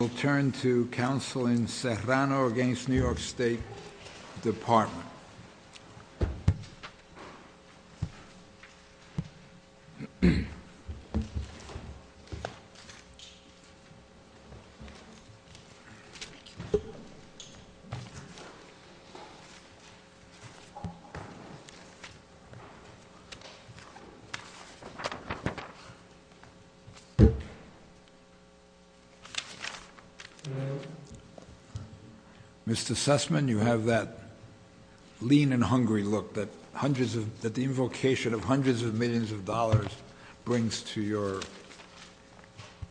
We'll turn to counsel in Serrano v. New York State Department. Mr. Sussman, you have that lean and hungry look that the invocation of hundreds of millions of dollars brings to your...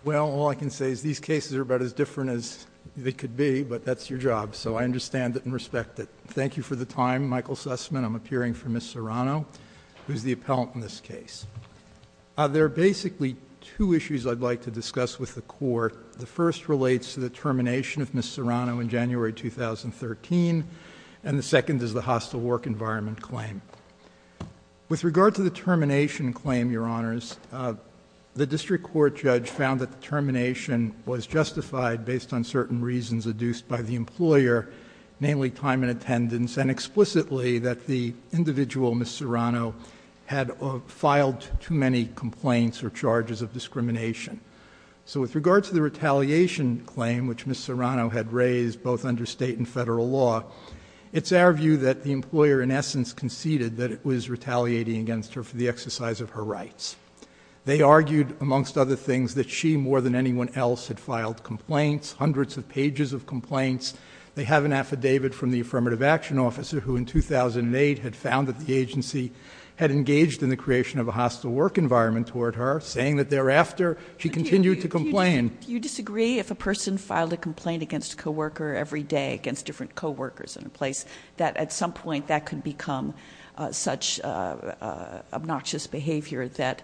Well, all I can say is these cases are about as different as they could be, but that's your job, so I understand it and respect it. Thank you for the time. Michael Sussman, I'm appearing for Ms. Serrano, who's the appellant in this case. There are basically two issues I'd like to discuss with the Court. The first relates to the termination of Ms. Serrano in January 2013, and the second is the hostile work environment claim. With regard to the termination claim, Your Honors, the district court judge found that the termination was justified based on certain reasons adduced by the employer, namely time and attendance, and explicitly that the individual, Ms. Serrano, had filed too many complaints or charges of discrimination. With regard to the retaliation claim, which Ms. Serrano had raised, both under state and federal law, it's our view that the employer, in essence, conceded that it was retaliating against her for the exercise of her rights. They argued, amongst other things, that she, more than anyone else, had filed complaints, hundreds of pages of complaints. They have an affidavit from the affirmative action officer, who in 2008 had found that the agency had engaged in the creation of a hostile work environment toward her, saying that thereafter she continued to complain. Do you disagree if a person filed a complaint against a coworker every day, against different coworkers in a place, that at some point that could become such obnoxious behavior that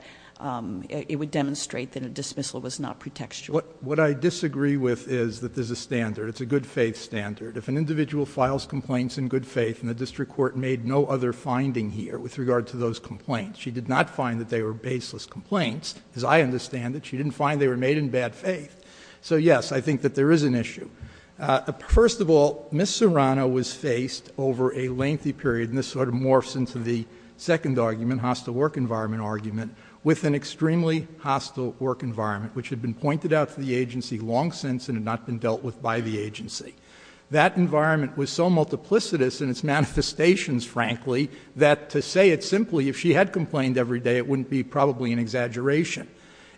it would demonstrate that a dismissal was not pretextual? What I disagree with is that there's a standard. It's a good faith standard. If an individual files complaints in good faith, and the district court made no other finding here with regard to those complaints, she did not find that they were baseless complaints. As I understand it, she didn't find they were made in bad faith. So yes, I think that there is an issue. First of all, Ms. Serrano was faced, over a lengthy period, and this sort of morphs into the second argument, hostile work environment argument, with an extremely hostile work environment, which had been pointed out to the agency long since and had not been dealt with by the agency. That environment was so multiplicitous in its manifestations, frankly, that to say it simply, if she had complained every day, it wouldn't be probably an exaggeration.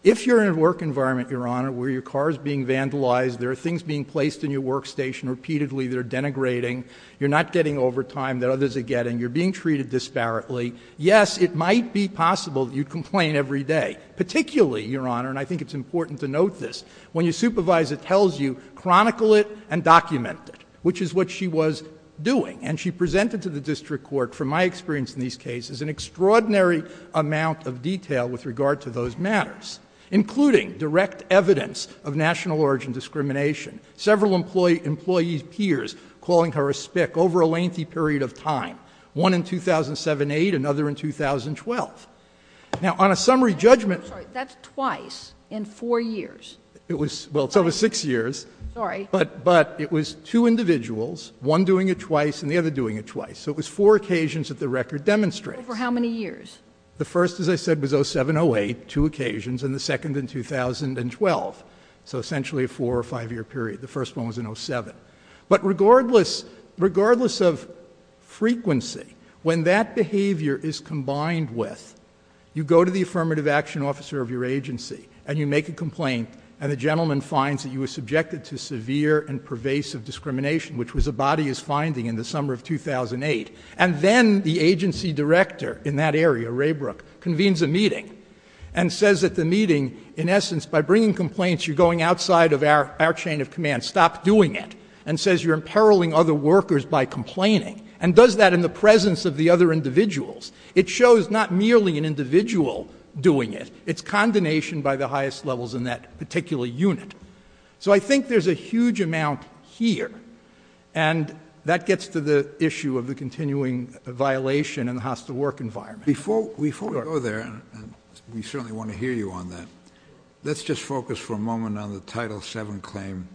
If you're in a work environment, Your Honor, where your car is being vandalized, there are things being placed in your workstation repeatedly that are denigrating, you're not getting overtime that others are getting, you're being treated disparately, yes, it might be possible that you'd complain every day. Particularly, Your Honor, and I think it's important to note this, when your supervisor tells you, chronicle it and document it, which is what she was doing. And she presented to the district court, from my experience in these cases, an extraordinary amount of detail with regard to those matters, including direct evidence of national origin discrimination, several employee peers calling her a spick over a lengthy period of time, one in 2007-8, another in 2012. Now, on a summary judgment... I'm sorry, that's twice in four years. It was, well, so it was six years. Sorry. But it was two individuals, one doing it twice and the other doing it twice, so it was four occasions that the record demonstrates. Over how many years? The first, as I said, was 07-08, two occasions, and the second in 2012, so essentially a four or five year period. The first one was in 07. But regardless of frequency, when that behavior is combined with, you go to the affirmative action officer of your agency, and you make a complaint, and the gentleman finds that you were subjected to severe and pervasive discrimination, which was a bodyist finding in the summer of 2008, and then the agency director in that area, Raybrook, convenes a meeting and says at the meeting, in essence, by bringing complaints, you're going outside of our chain of command, stop doing it, and says you're imperiling other workers by complaining, and does that in the presence of the other individuals. It shows not merely an individual doing it. It's condemnation by the highest levels in that particular unit. So I think there's a huge amount here, and that gets to the issue of the continuing violation in the hostile work environment. Before we go there, and we certainly want to hear you on that, let's just focus for a moment on the Title VII claim.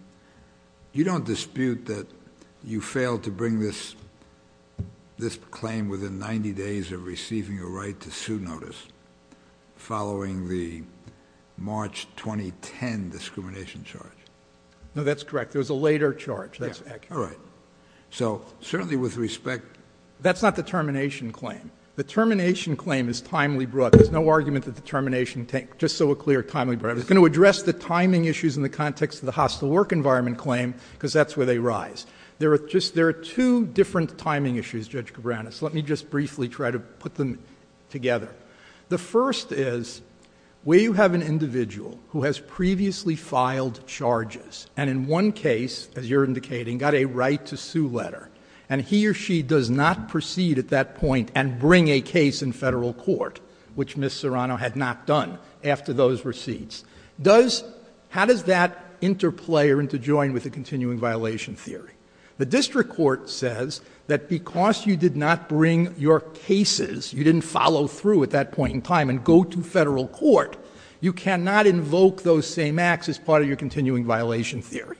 You don't dispute that you failed to bring this claim within 90 days of receiving a right to sue notice, following the March 2010 discrimination charge. No, that's correct. There was a later charge. That's accurate. All right. So certainly with respect... That's not the termination claim. The termination claim is timely brought. There's no argument that the termination... Just so we're clear, timely brought. I was going to address the timing issues in the context of the hostile work environment claim, because that's where they rise. There are two different timing issues, Judge Cabranes. Let me just briefly try to put them together. The first is, where you have an individual who has previously filed charges, and in one case, as you're indicating, got a right to sue letter, and he or she does not proceed at that point and bring a case in federal court, which Ms. Serrano had not done after those receipts, does... How does that interplay or interjoin with the continuing violation theory? The district court says that because you did not bring your cases, you didn't follow through at that point in time and go to federal court, you cannot invoke those same acts as part of your continuing violation theory.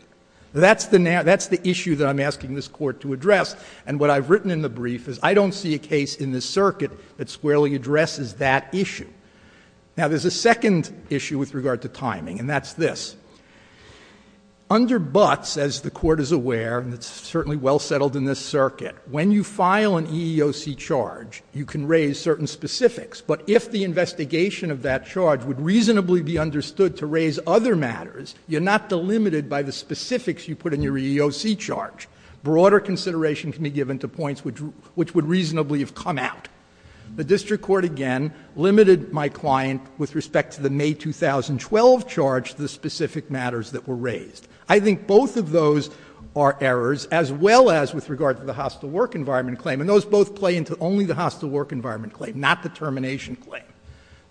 That's the issue that I'm asking this Court to address. And what I've written in the brief is, I don't see a case in this circuit that squarely addresses that issue. Now, there's a second issue with regard to timing, and that's this. Under Butts, as the Court is aware, and it's certainly well settled in this circuit, when you file an EEOC charge, you can raise certain specifics, but if the investigation of that charge would reasonably be understood to raise other matters, you're not delimited by the specifics you put in your EEOC charge. Broader consideration can be given to points which would reasonably have come out. The district court, again, limited my client with respect to the May 2012 charge the specific matters that were raised. I think both of those are errors, as well as with regard to the hostile work environment claim, and those both play into only the hostile work environment claim, not the termination claim.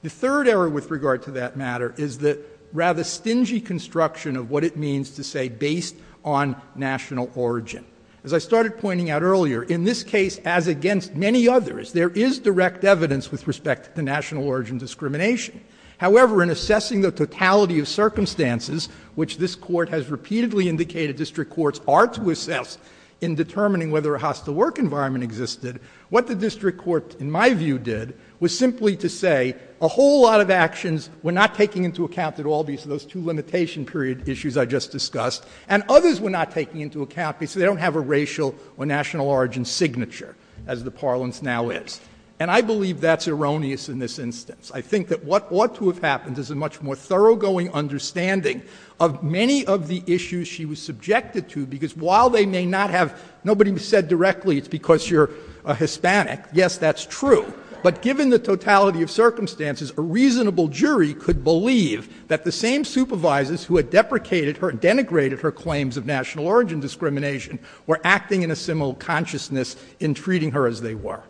The third error with regard to that matter is the rather stingy construction of what it means to say, based on national origin. As I started pointing out earlier, in this case, as against many others, there is direct evidence with respect to national origin discrimination. However, in assessing the totality of circumstances, which this Court has repeatedly indicated district courts are to assess in determining whether a hostile work environment existed, what the district court, in my view, did was simply to say a whole lot of actions were not taking into account at all, based on those two limitation period issues I just discussed, and others were not taking into account because they don't have a racial or national origin signature, as the parlance now is. And I believe that's erroneous in this instance. I think that what ought to have happened is a much more thoroughgoing understanding of many of the issues she was subjected to, because while they may not have — nobody said directly it's because you're a Hispanic. Yes, that's true. But given the totality of circumstances, a reasonable jury could believe that the same supervisors who had deprecated her — denigrated her claims of national origin discrimination were acting in a similar consciousness in treating her as they were.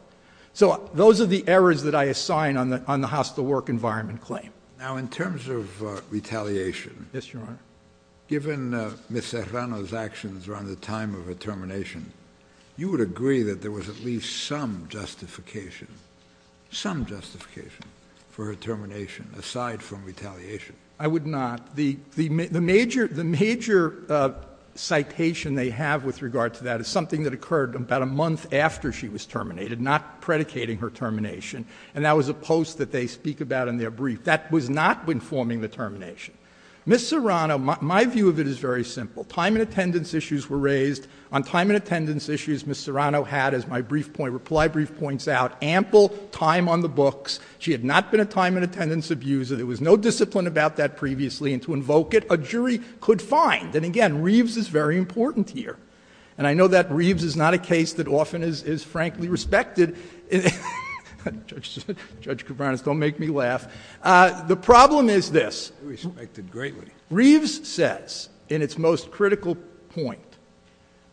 So those are the errors that I assign on the hostile work environment claim. Now, in terms of retaliation — Yes, Your Honor. Given Ms. Serrano's actions around the time of her termination, you would agree that there was at least some justification — some justification — for her termination, aside from retaliation? I would not. The major citation they have with regard to that is something that occurred about a month after she was terminated, not predicating her termination. And that was a post that they speak about in their brief. That was not informing the termination. Ms. Serrano — my view of it is very simple. Time and attendance issues were raised. On time and attendance issues, Ms. Serrano had, as my brief point — reply brief points out, ample time on the books. She had not been a time and attendance abuser. There was no discipline about that previously. And to invoke it, a jury could find — and again, Reeves is very important here. And I know that Reeves is not a case that often is, frankly, respected. Judge Kovanec, don't make me laugh. The problem is this — Respected greatly. Reeves says, in its most critical point,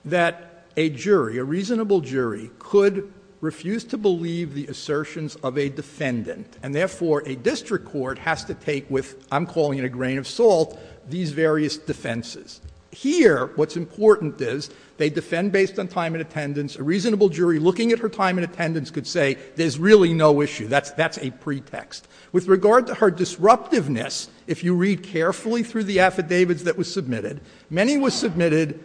that a jury — a reasonable jury — could refuse to believe the assertions of a defendant. And therefore, a district court has to take with — I'm calling it a grain of salt — these various defenses. Here, what's important is, they defend based on time and attendance. A reasonable jury, looking at her time and attendance, could say, there's really no issue. That's a pretext. With regard to her disruptiveness, if you read carefully through the affidavits that were submitted, many were submitted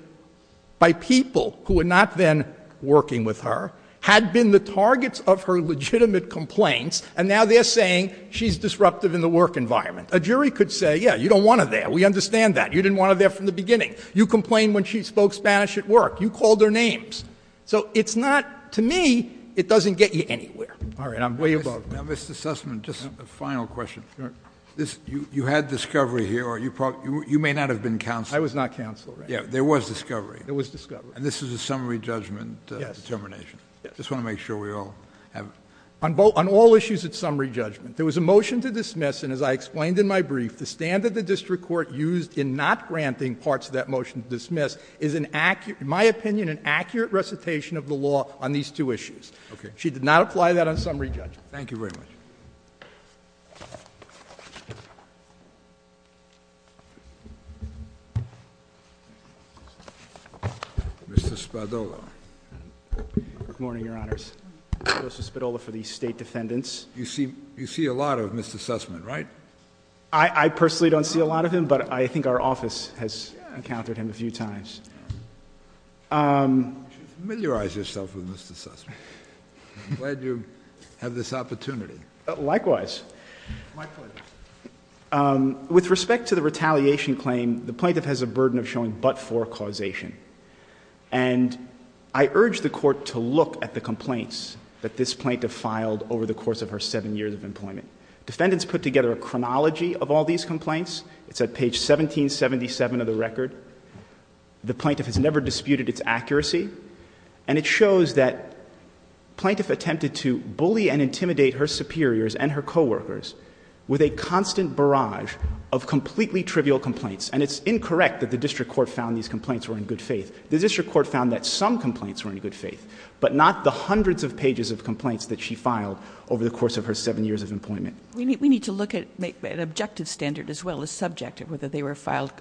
by people who were not then working with her, had been the targets of her legitimate complaints, and now they're saying she's disruptive in the work environment. A jury could say, yeah, you don't want her there. We understand that. You didn't want her there from the beginning. You complained when she spoke Spanish at work. You called her names. So it's not — to me, it doesn't get you anywhere. All right. I'm way above — Now, Mr. Sussman, just a final question. You had discovery here, or you may not have been counsel. I was not counsel. Yeah. There was discovery. There was discovery. And this is a summary judgment determination. Yes. I just want to make sure we all have — On all issues, it's summary judgment. There was a motion to dismiss, and as I explained in my brief, the standard the district court used in not granting parts of that motion to dismiss is, in my opinion, an accurate recitation of the law on these two issues. Okay. She did not apply that on summary judgment. Mr. Spadolo. Good morning, Your Honor. Good morning, Your Honors. Joseph Spadolo for the State Defendants. You see a lot of Mr. Sussman, right? I personally don't see a lot of him, but I think our office has encountered him a few times. Yeah. You should familiarize yourself with Mr. Sussman. I'm glad you have this opportunity. Likewise. My pleasure. With respect to the retaliation claim, the plaintiff has a burden of showing but-for causation. And I urge the court to look at the complaints that this plaintiff filed over the course of her seven years of employment. Defendants put together a chronology of all these complaints. It's at page 1777 of the record. The plaintiff has never disputed its accuracy. And it shows that plaintiff attempted to bully and intimidate her superiors and her co-workers with a constant barrage of completely trivial complaints. And it's incorrect that the district court found these complaints were in good faith. The district court found that some complaints were in good faith, but not the hundreds of pages of complaints that she filed over the course of her seven years of employment. We need to look at an objective standard as well as subjective, whether they were filed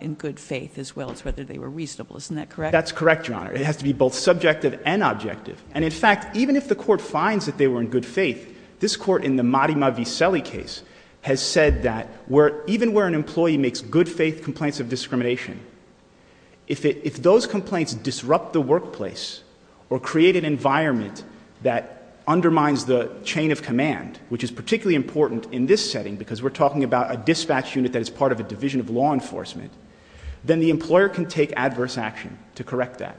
in good faith as well as whether they were reasonable. Isn't that correct? That's correct, Your Honor. It has to be both subjective and objective. And in fact, even if the court finds that they were in good faith, this court in the good faith complaints of discrimination, if those complaints disrupt the workplace or create an environment that undermines the chain of command, which is particularly important in this setting because we're talking about a dispatch unit that is part of a division of law enforcement, then the employer can take adverse action to correct that.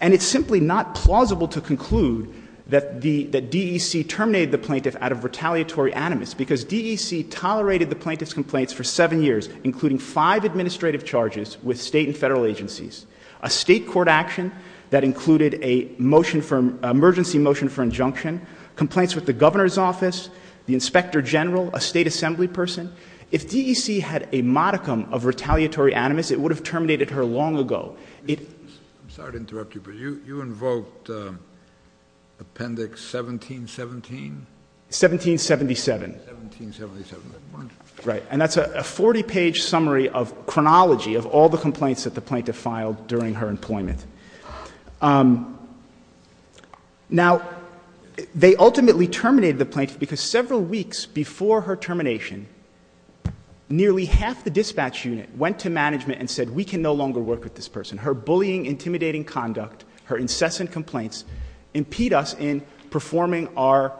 And it's simply not plausible to conclude that DEC terminated the plaintiff out of retaliatory animus because DEC tolerated the plaintiff's complaints for seven years, including five administrative charges with state and federal agencies, a state court action that included a motion for emergency motion for injunction, complaints with the governor's office, the inspector general, a state assembly person. If DEC had a modicum of retaliatory animus, it would have terminated her long ago. I'm sorry to interrupt you, but you invoked appendix 1717? 1777. 1777. Right. And that's a 40-page summary of chronology of all the complaints that the plaintiff filed during her employment. Now, they ultimately terminated the plaintiff because several weeks before her termination, nearly half the dispatch unit went to management and said, we can no longer work with this person. Her bullying, intimidating conduct, her incessant complaints impede us in performing our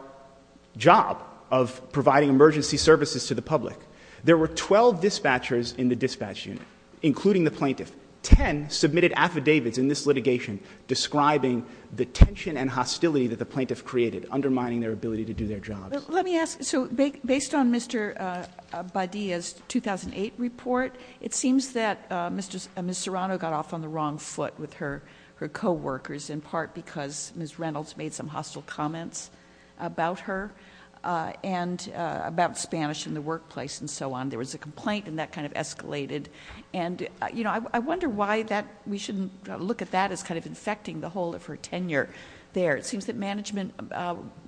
job of providing emergency services to the public. There were 12 dispatchers in the dispatch unit, including the plaintiff. Ten submitted affidavits in this litigation describing the tension and hostility that the plaintiff created, undermining their ability to do their job. Let me ask, so based on Mr. Badia's 2008 report, it seems that Ms. Serrano got off on the wrong foot about her and about Spanish in the workplace and so on. There was a complaint and that kind of escalated. And, you know, I wonder why that we shouldn't look at that as kind of infecting the whole of her tenure there. It seems that management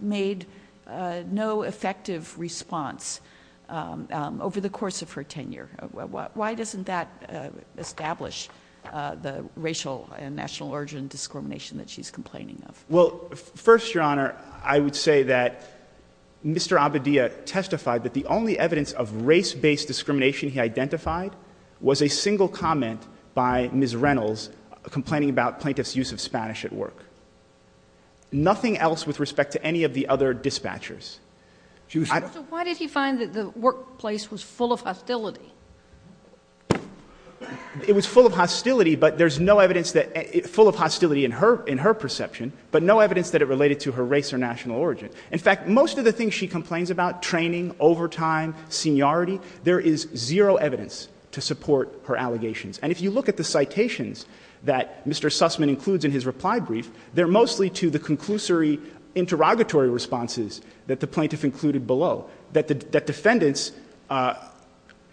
made no effective response over the course of her tenure. Why doesn't that establish the racial and national origin discrimination that she's complaining of? Well, first, Your Honor, I would say that Mr. Abadia testified that the only evidence of race-based discrimination he identified was a single comment by Ms. Reynolds complaining about plaintiff's use of Spanish at work. Nothing else with respect to any of the other dispatchers. So why did he find that the workplace was full of hostility? It was full of hostility, but there's no evidence that it's full of hostility in her perception, but no evidence that it related to her race or national origin. In fact, most of the things she complains about, training, overtime, seniority, there is zero evidence to support her allegations. And if you look at the citations that Mr. Sussman includes in his reply brief, they're mostly to the conclusory interrogatory responses that the plaintiff included below, that defendants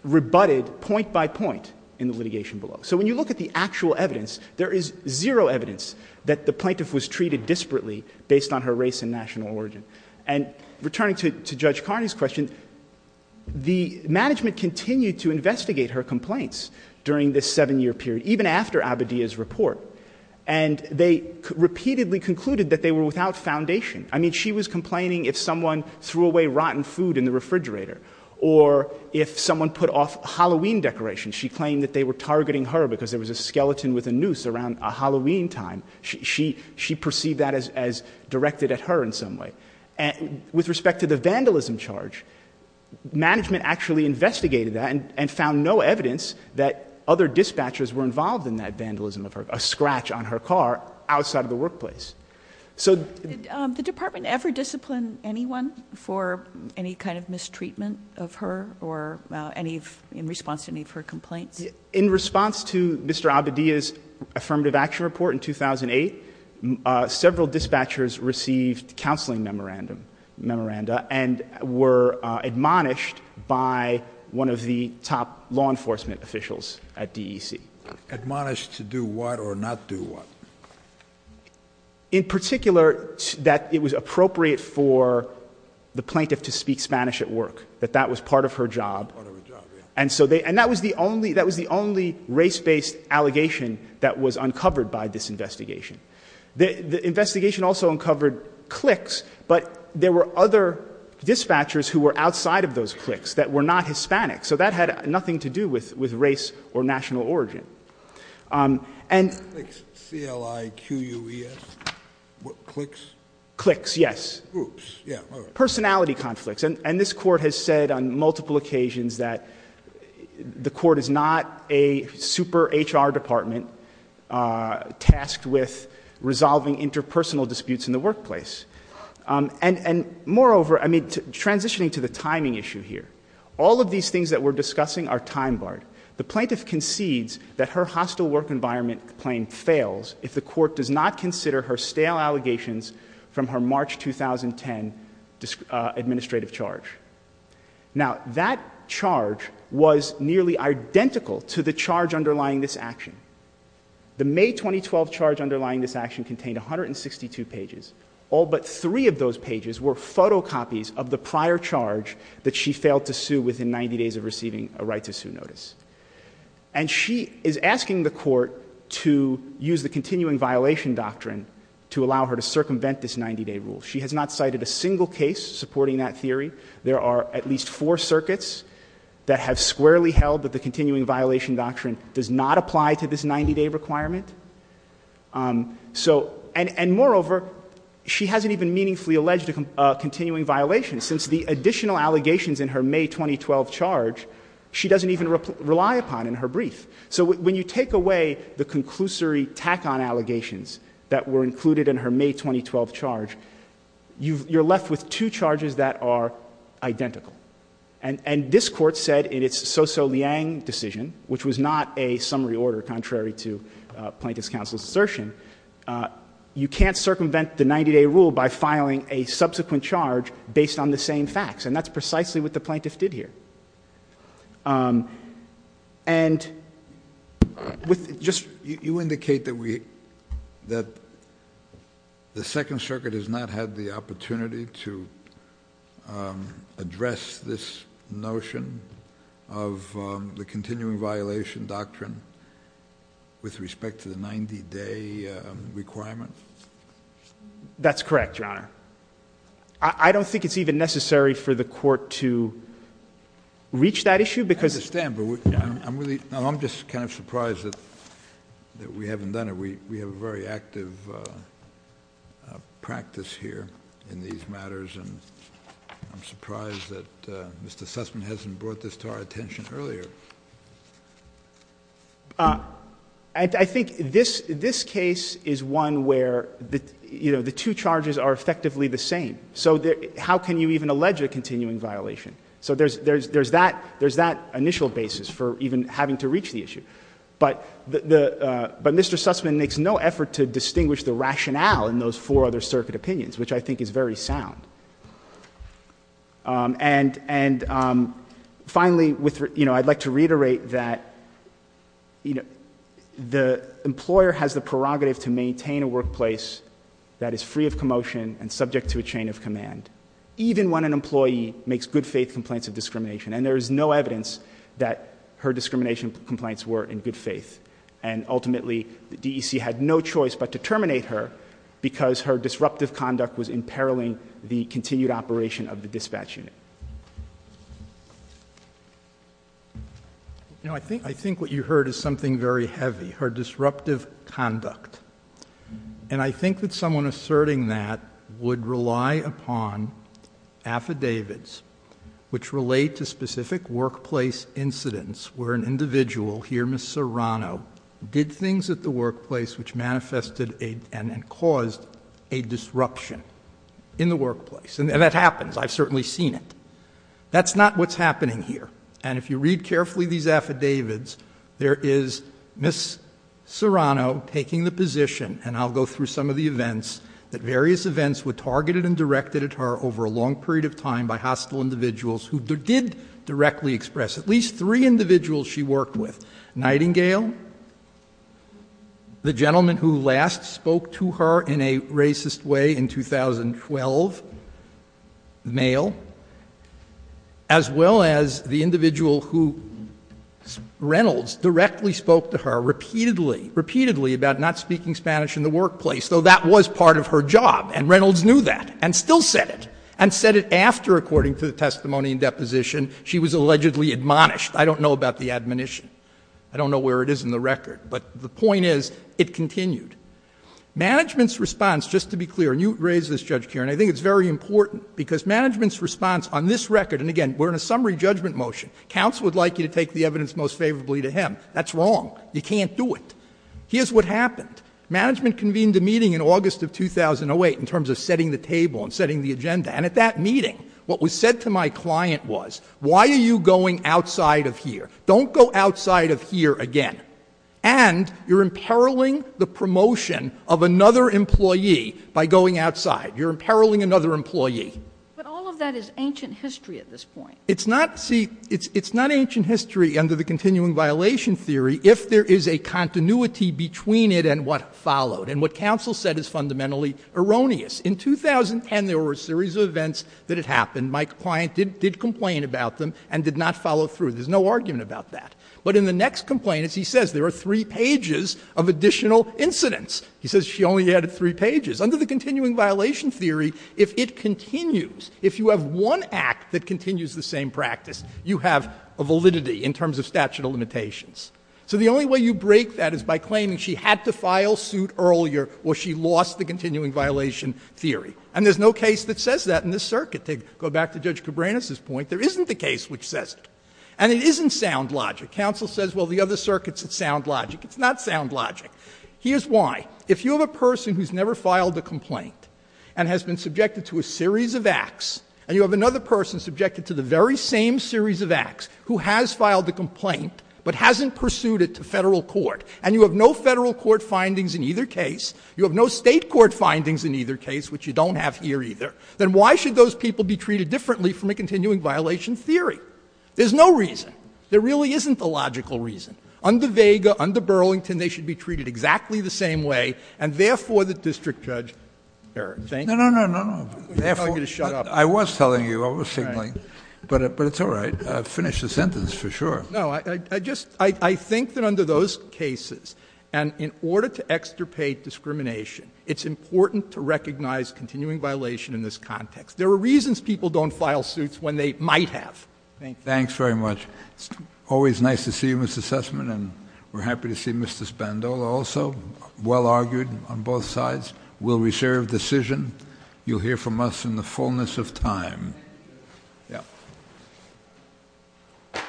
rebutted point by point in the litigation below. So when you look at the actual evidence, there is zero evidence that the plaintiff was treated disparately based on her race and national origin. And returning to Judge Carney's question, the management continued to investigate her complaints during this seven-year period, even after Abadia's report. And they repeatedly concluded that they were without foundation. I mean, she was complaining if someone threw away rotten food in the refrigerator or if someone put off Halloween decorations. She claimed that they were targeting her because there was a skeleton with a noose around Halloween time. She perceived that as directed at her in some way. With respect to the vandalism charge, management actually investigated that and found no evidence that other dispatchers were involved in that vandalism of her, a scratch on her car outside of the workplace. So... Did the department ever discipline anyone for any kind of mistreatment of her or in response to any of her complaints? In response to Mr. Abadia's affirmative action report in 2008, several dispatchers received counseling memoranda and were admonished by one of the top law enforcement officials at DEC. Admonished to do what or not do what? In particular, that it was appropriate for the plaintiff to speak Spanish at work, that that was part of her job. Part of her job, yeah. And that was the only race-based allegation that was uncovered by this investigation. The investigation also uncovered cliques, but there were other dispatchers who were outside of those cliques that were not Hispanic. So that had nothing to do with race or national origin. And... CLI-Q-U-E-S? Cliques? Cliques, yes. Groups. Yeah. All right. Personality conflicts. And this Court has said on multiple occasions that the Court is not a super-H.R. department tasked with resolving interpersonal disputes in the workplace. And moreover, transitioning to the timing issue here, all of these things that we're discussing are time-barred. The plaintiff concedes that her hostile work environment claim fails if the Court does not consider her stale allegations from her March 2010 administrative charge. Now that charge was nearly identical to the charge underlying this action. The May 2012 charge underlying this action contained 162 pages. All but three of those pages were photocopies of the prior charge that she failed to sue within 90 days of receiving a right to sue notice. And she is asking the Court to use the continuing violation doctrine to allow her to circumvent this 90-day rule. She has not cited a single case supporting that theory. There are at least four circuits that have squarely held that the continuing violation doctrine does not apply to this 90-day requirement. And moreover, she hasn't even meaningfully alleged a continuing violation. Since the additional allegations in her May 2012 charge, she doesn't even rely upon in her brief. So when you take away the conclusory tack-on allegations that were included in her May 2012 charge, you're left with two charges that are identical. And this Court said in its SoSoLiang decision, which was not a summary order contrary to Plaintiff's counsel's assertion, you can't circumvent the 90-day rule by filing a subsequent charge based on the same facts. And that's precisely what the Plaintiff did here. And with just... You indicate that the Second Circuit has not had the opportunity to address this notion of the continuing violation doctrine with respect to the 90-day requirement? That's correct, Your Honor. I don't think it's even necessary for the Court to reach that issue because... I understand, but I'm just kind of surprised that we haven't done it. We have a very active practice here in these matters, and I'm surprised that Mr. Sussman hasn't brought this to our attention earlier. And I think this case is one where the two charges are effectively the same. So how can you even allege a continuing violation? So there's that initial basis for even having to reach the issue. But Mr. Sussman makes no effort to distinguish the rationale in those four other circuit opinions, which I think is very sound. And finally, I'd like to reiterate that the employer has the prerogative to maintain a workplace that is free of commotion and subject to a chain of command, even when an employee makes good faith complaints of discrimination. And there is no evidence that her discrimination complaints were in good faith. And ultimately, the DEC had no choice but to terminate her because her disruptive conduct was imperiling the continued operation of the dispatch unit. I think what you heard is something very heavy, her disruptive conduct. And I think that someone asserting that would rely upon affidavits which relate to specific workplace incidents where an individual, here Ms. Serrano, did things at the workplace. And that happens. I've certainly seen it. That's not what's happening here. And if you read carefully these affidavits, there is Ms. Serrano taking the position, and I'll go through some of the events, that various events were targeted and directed at her over a long period of time by hostile individuals who did directly express at least three individuals she worked with. Nightingale, the gentleman who last spoke to her in a meeting in 2012, the male, as well as the individual who Reynolds directly spoke to her repeatedly, repeatedly about not speaking Spanish in the workplace, though that was part of her job, and Reynolds knew that and still said it, and said it after, according to the testimony and deposition, she was allegedly admonished. I don't know about the admonition. I don't know where it is in the record. But the point is, it continued. Management's response, just to be clear, and you raised this, Judge Kieran, I think it's very important, because management's response on this record, and again, we're in a summary judgment motion. Counsel would like you to take the evidence most favorably to him. That's wrong. You can't do it. Here's what happened. Management convened a meeting in August of 2008 in terms of setting the table and setting the agenda. And at that meeting, what was said to my client was, why are you going outside of here? Don't go outside of here again. And you're imperiling the promotion of another employee by going outside. You're imperiling another employee. But all of that is ancient history at this point. It's not, see, it's not ancient history under the continuing violation theory if there is a continuity between it and what followed. And what counsel said is fundamentally erroneous. In 2010, there were a series of events that had happened. My client did complain about them and did not follow through. There's no argument about that. But in the next complaint, as he says, there are three pages of additional incidents. He says she only added three pages. Under the continuing violation theory, if it continues, if you have one act that continues the same practice, you have a validity in terms of statute of limitations. So the only way you break that is by claiming she had to file suit earlier or she lost the continuing violation theory. And there's no case that says that in this circuit. To go back to Judge Cabranes' point, there isn't a case which says it. And it isn't sound logic. Counsel says, well, the other circuits, it's sound logic. It's not sound logic. Here's why. If you have a person who's never filed a complaint and has been subjected to a series of acts, and you have another person subjected to the very same series of acts who has filed a complaint but hasn't pursued it to Federal court, and you have no Federal court findings in either case, you have no State court findings in either case, which you don't have here either, then why should those people be treated differently from a continuing violation theory? There's no reason. There really isn't a logical reason. Under Vega, under Burlington, they should be treated exactly the same way, and therefore, the district judge — Eric, thank you. No, no, no, no, no. I'm going to shut up. I was telling you. I was signaling. But it's all right. Finish the sentence for sure. No, I just — I think that under those cases, and in order to extirpate discrimination, it's important to recognize continuing violation in this context. There are reasons people don't file suits when they might have. Thank you. Thanks very much. Always nice to see you, Mr. Sussman, and we're happy to see Mr. Spandau also, well-argued on both sides. We'll reserve decision. You'll hear from us in the fullness of time. Thank you. Yeah.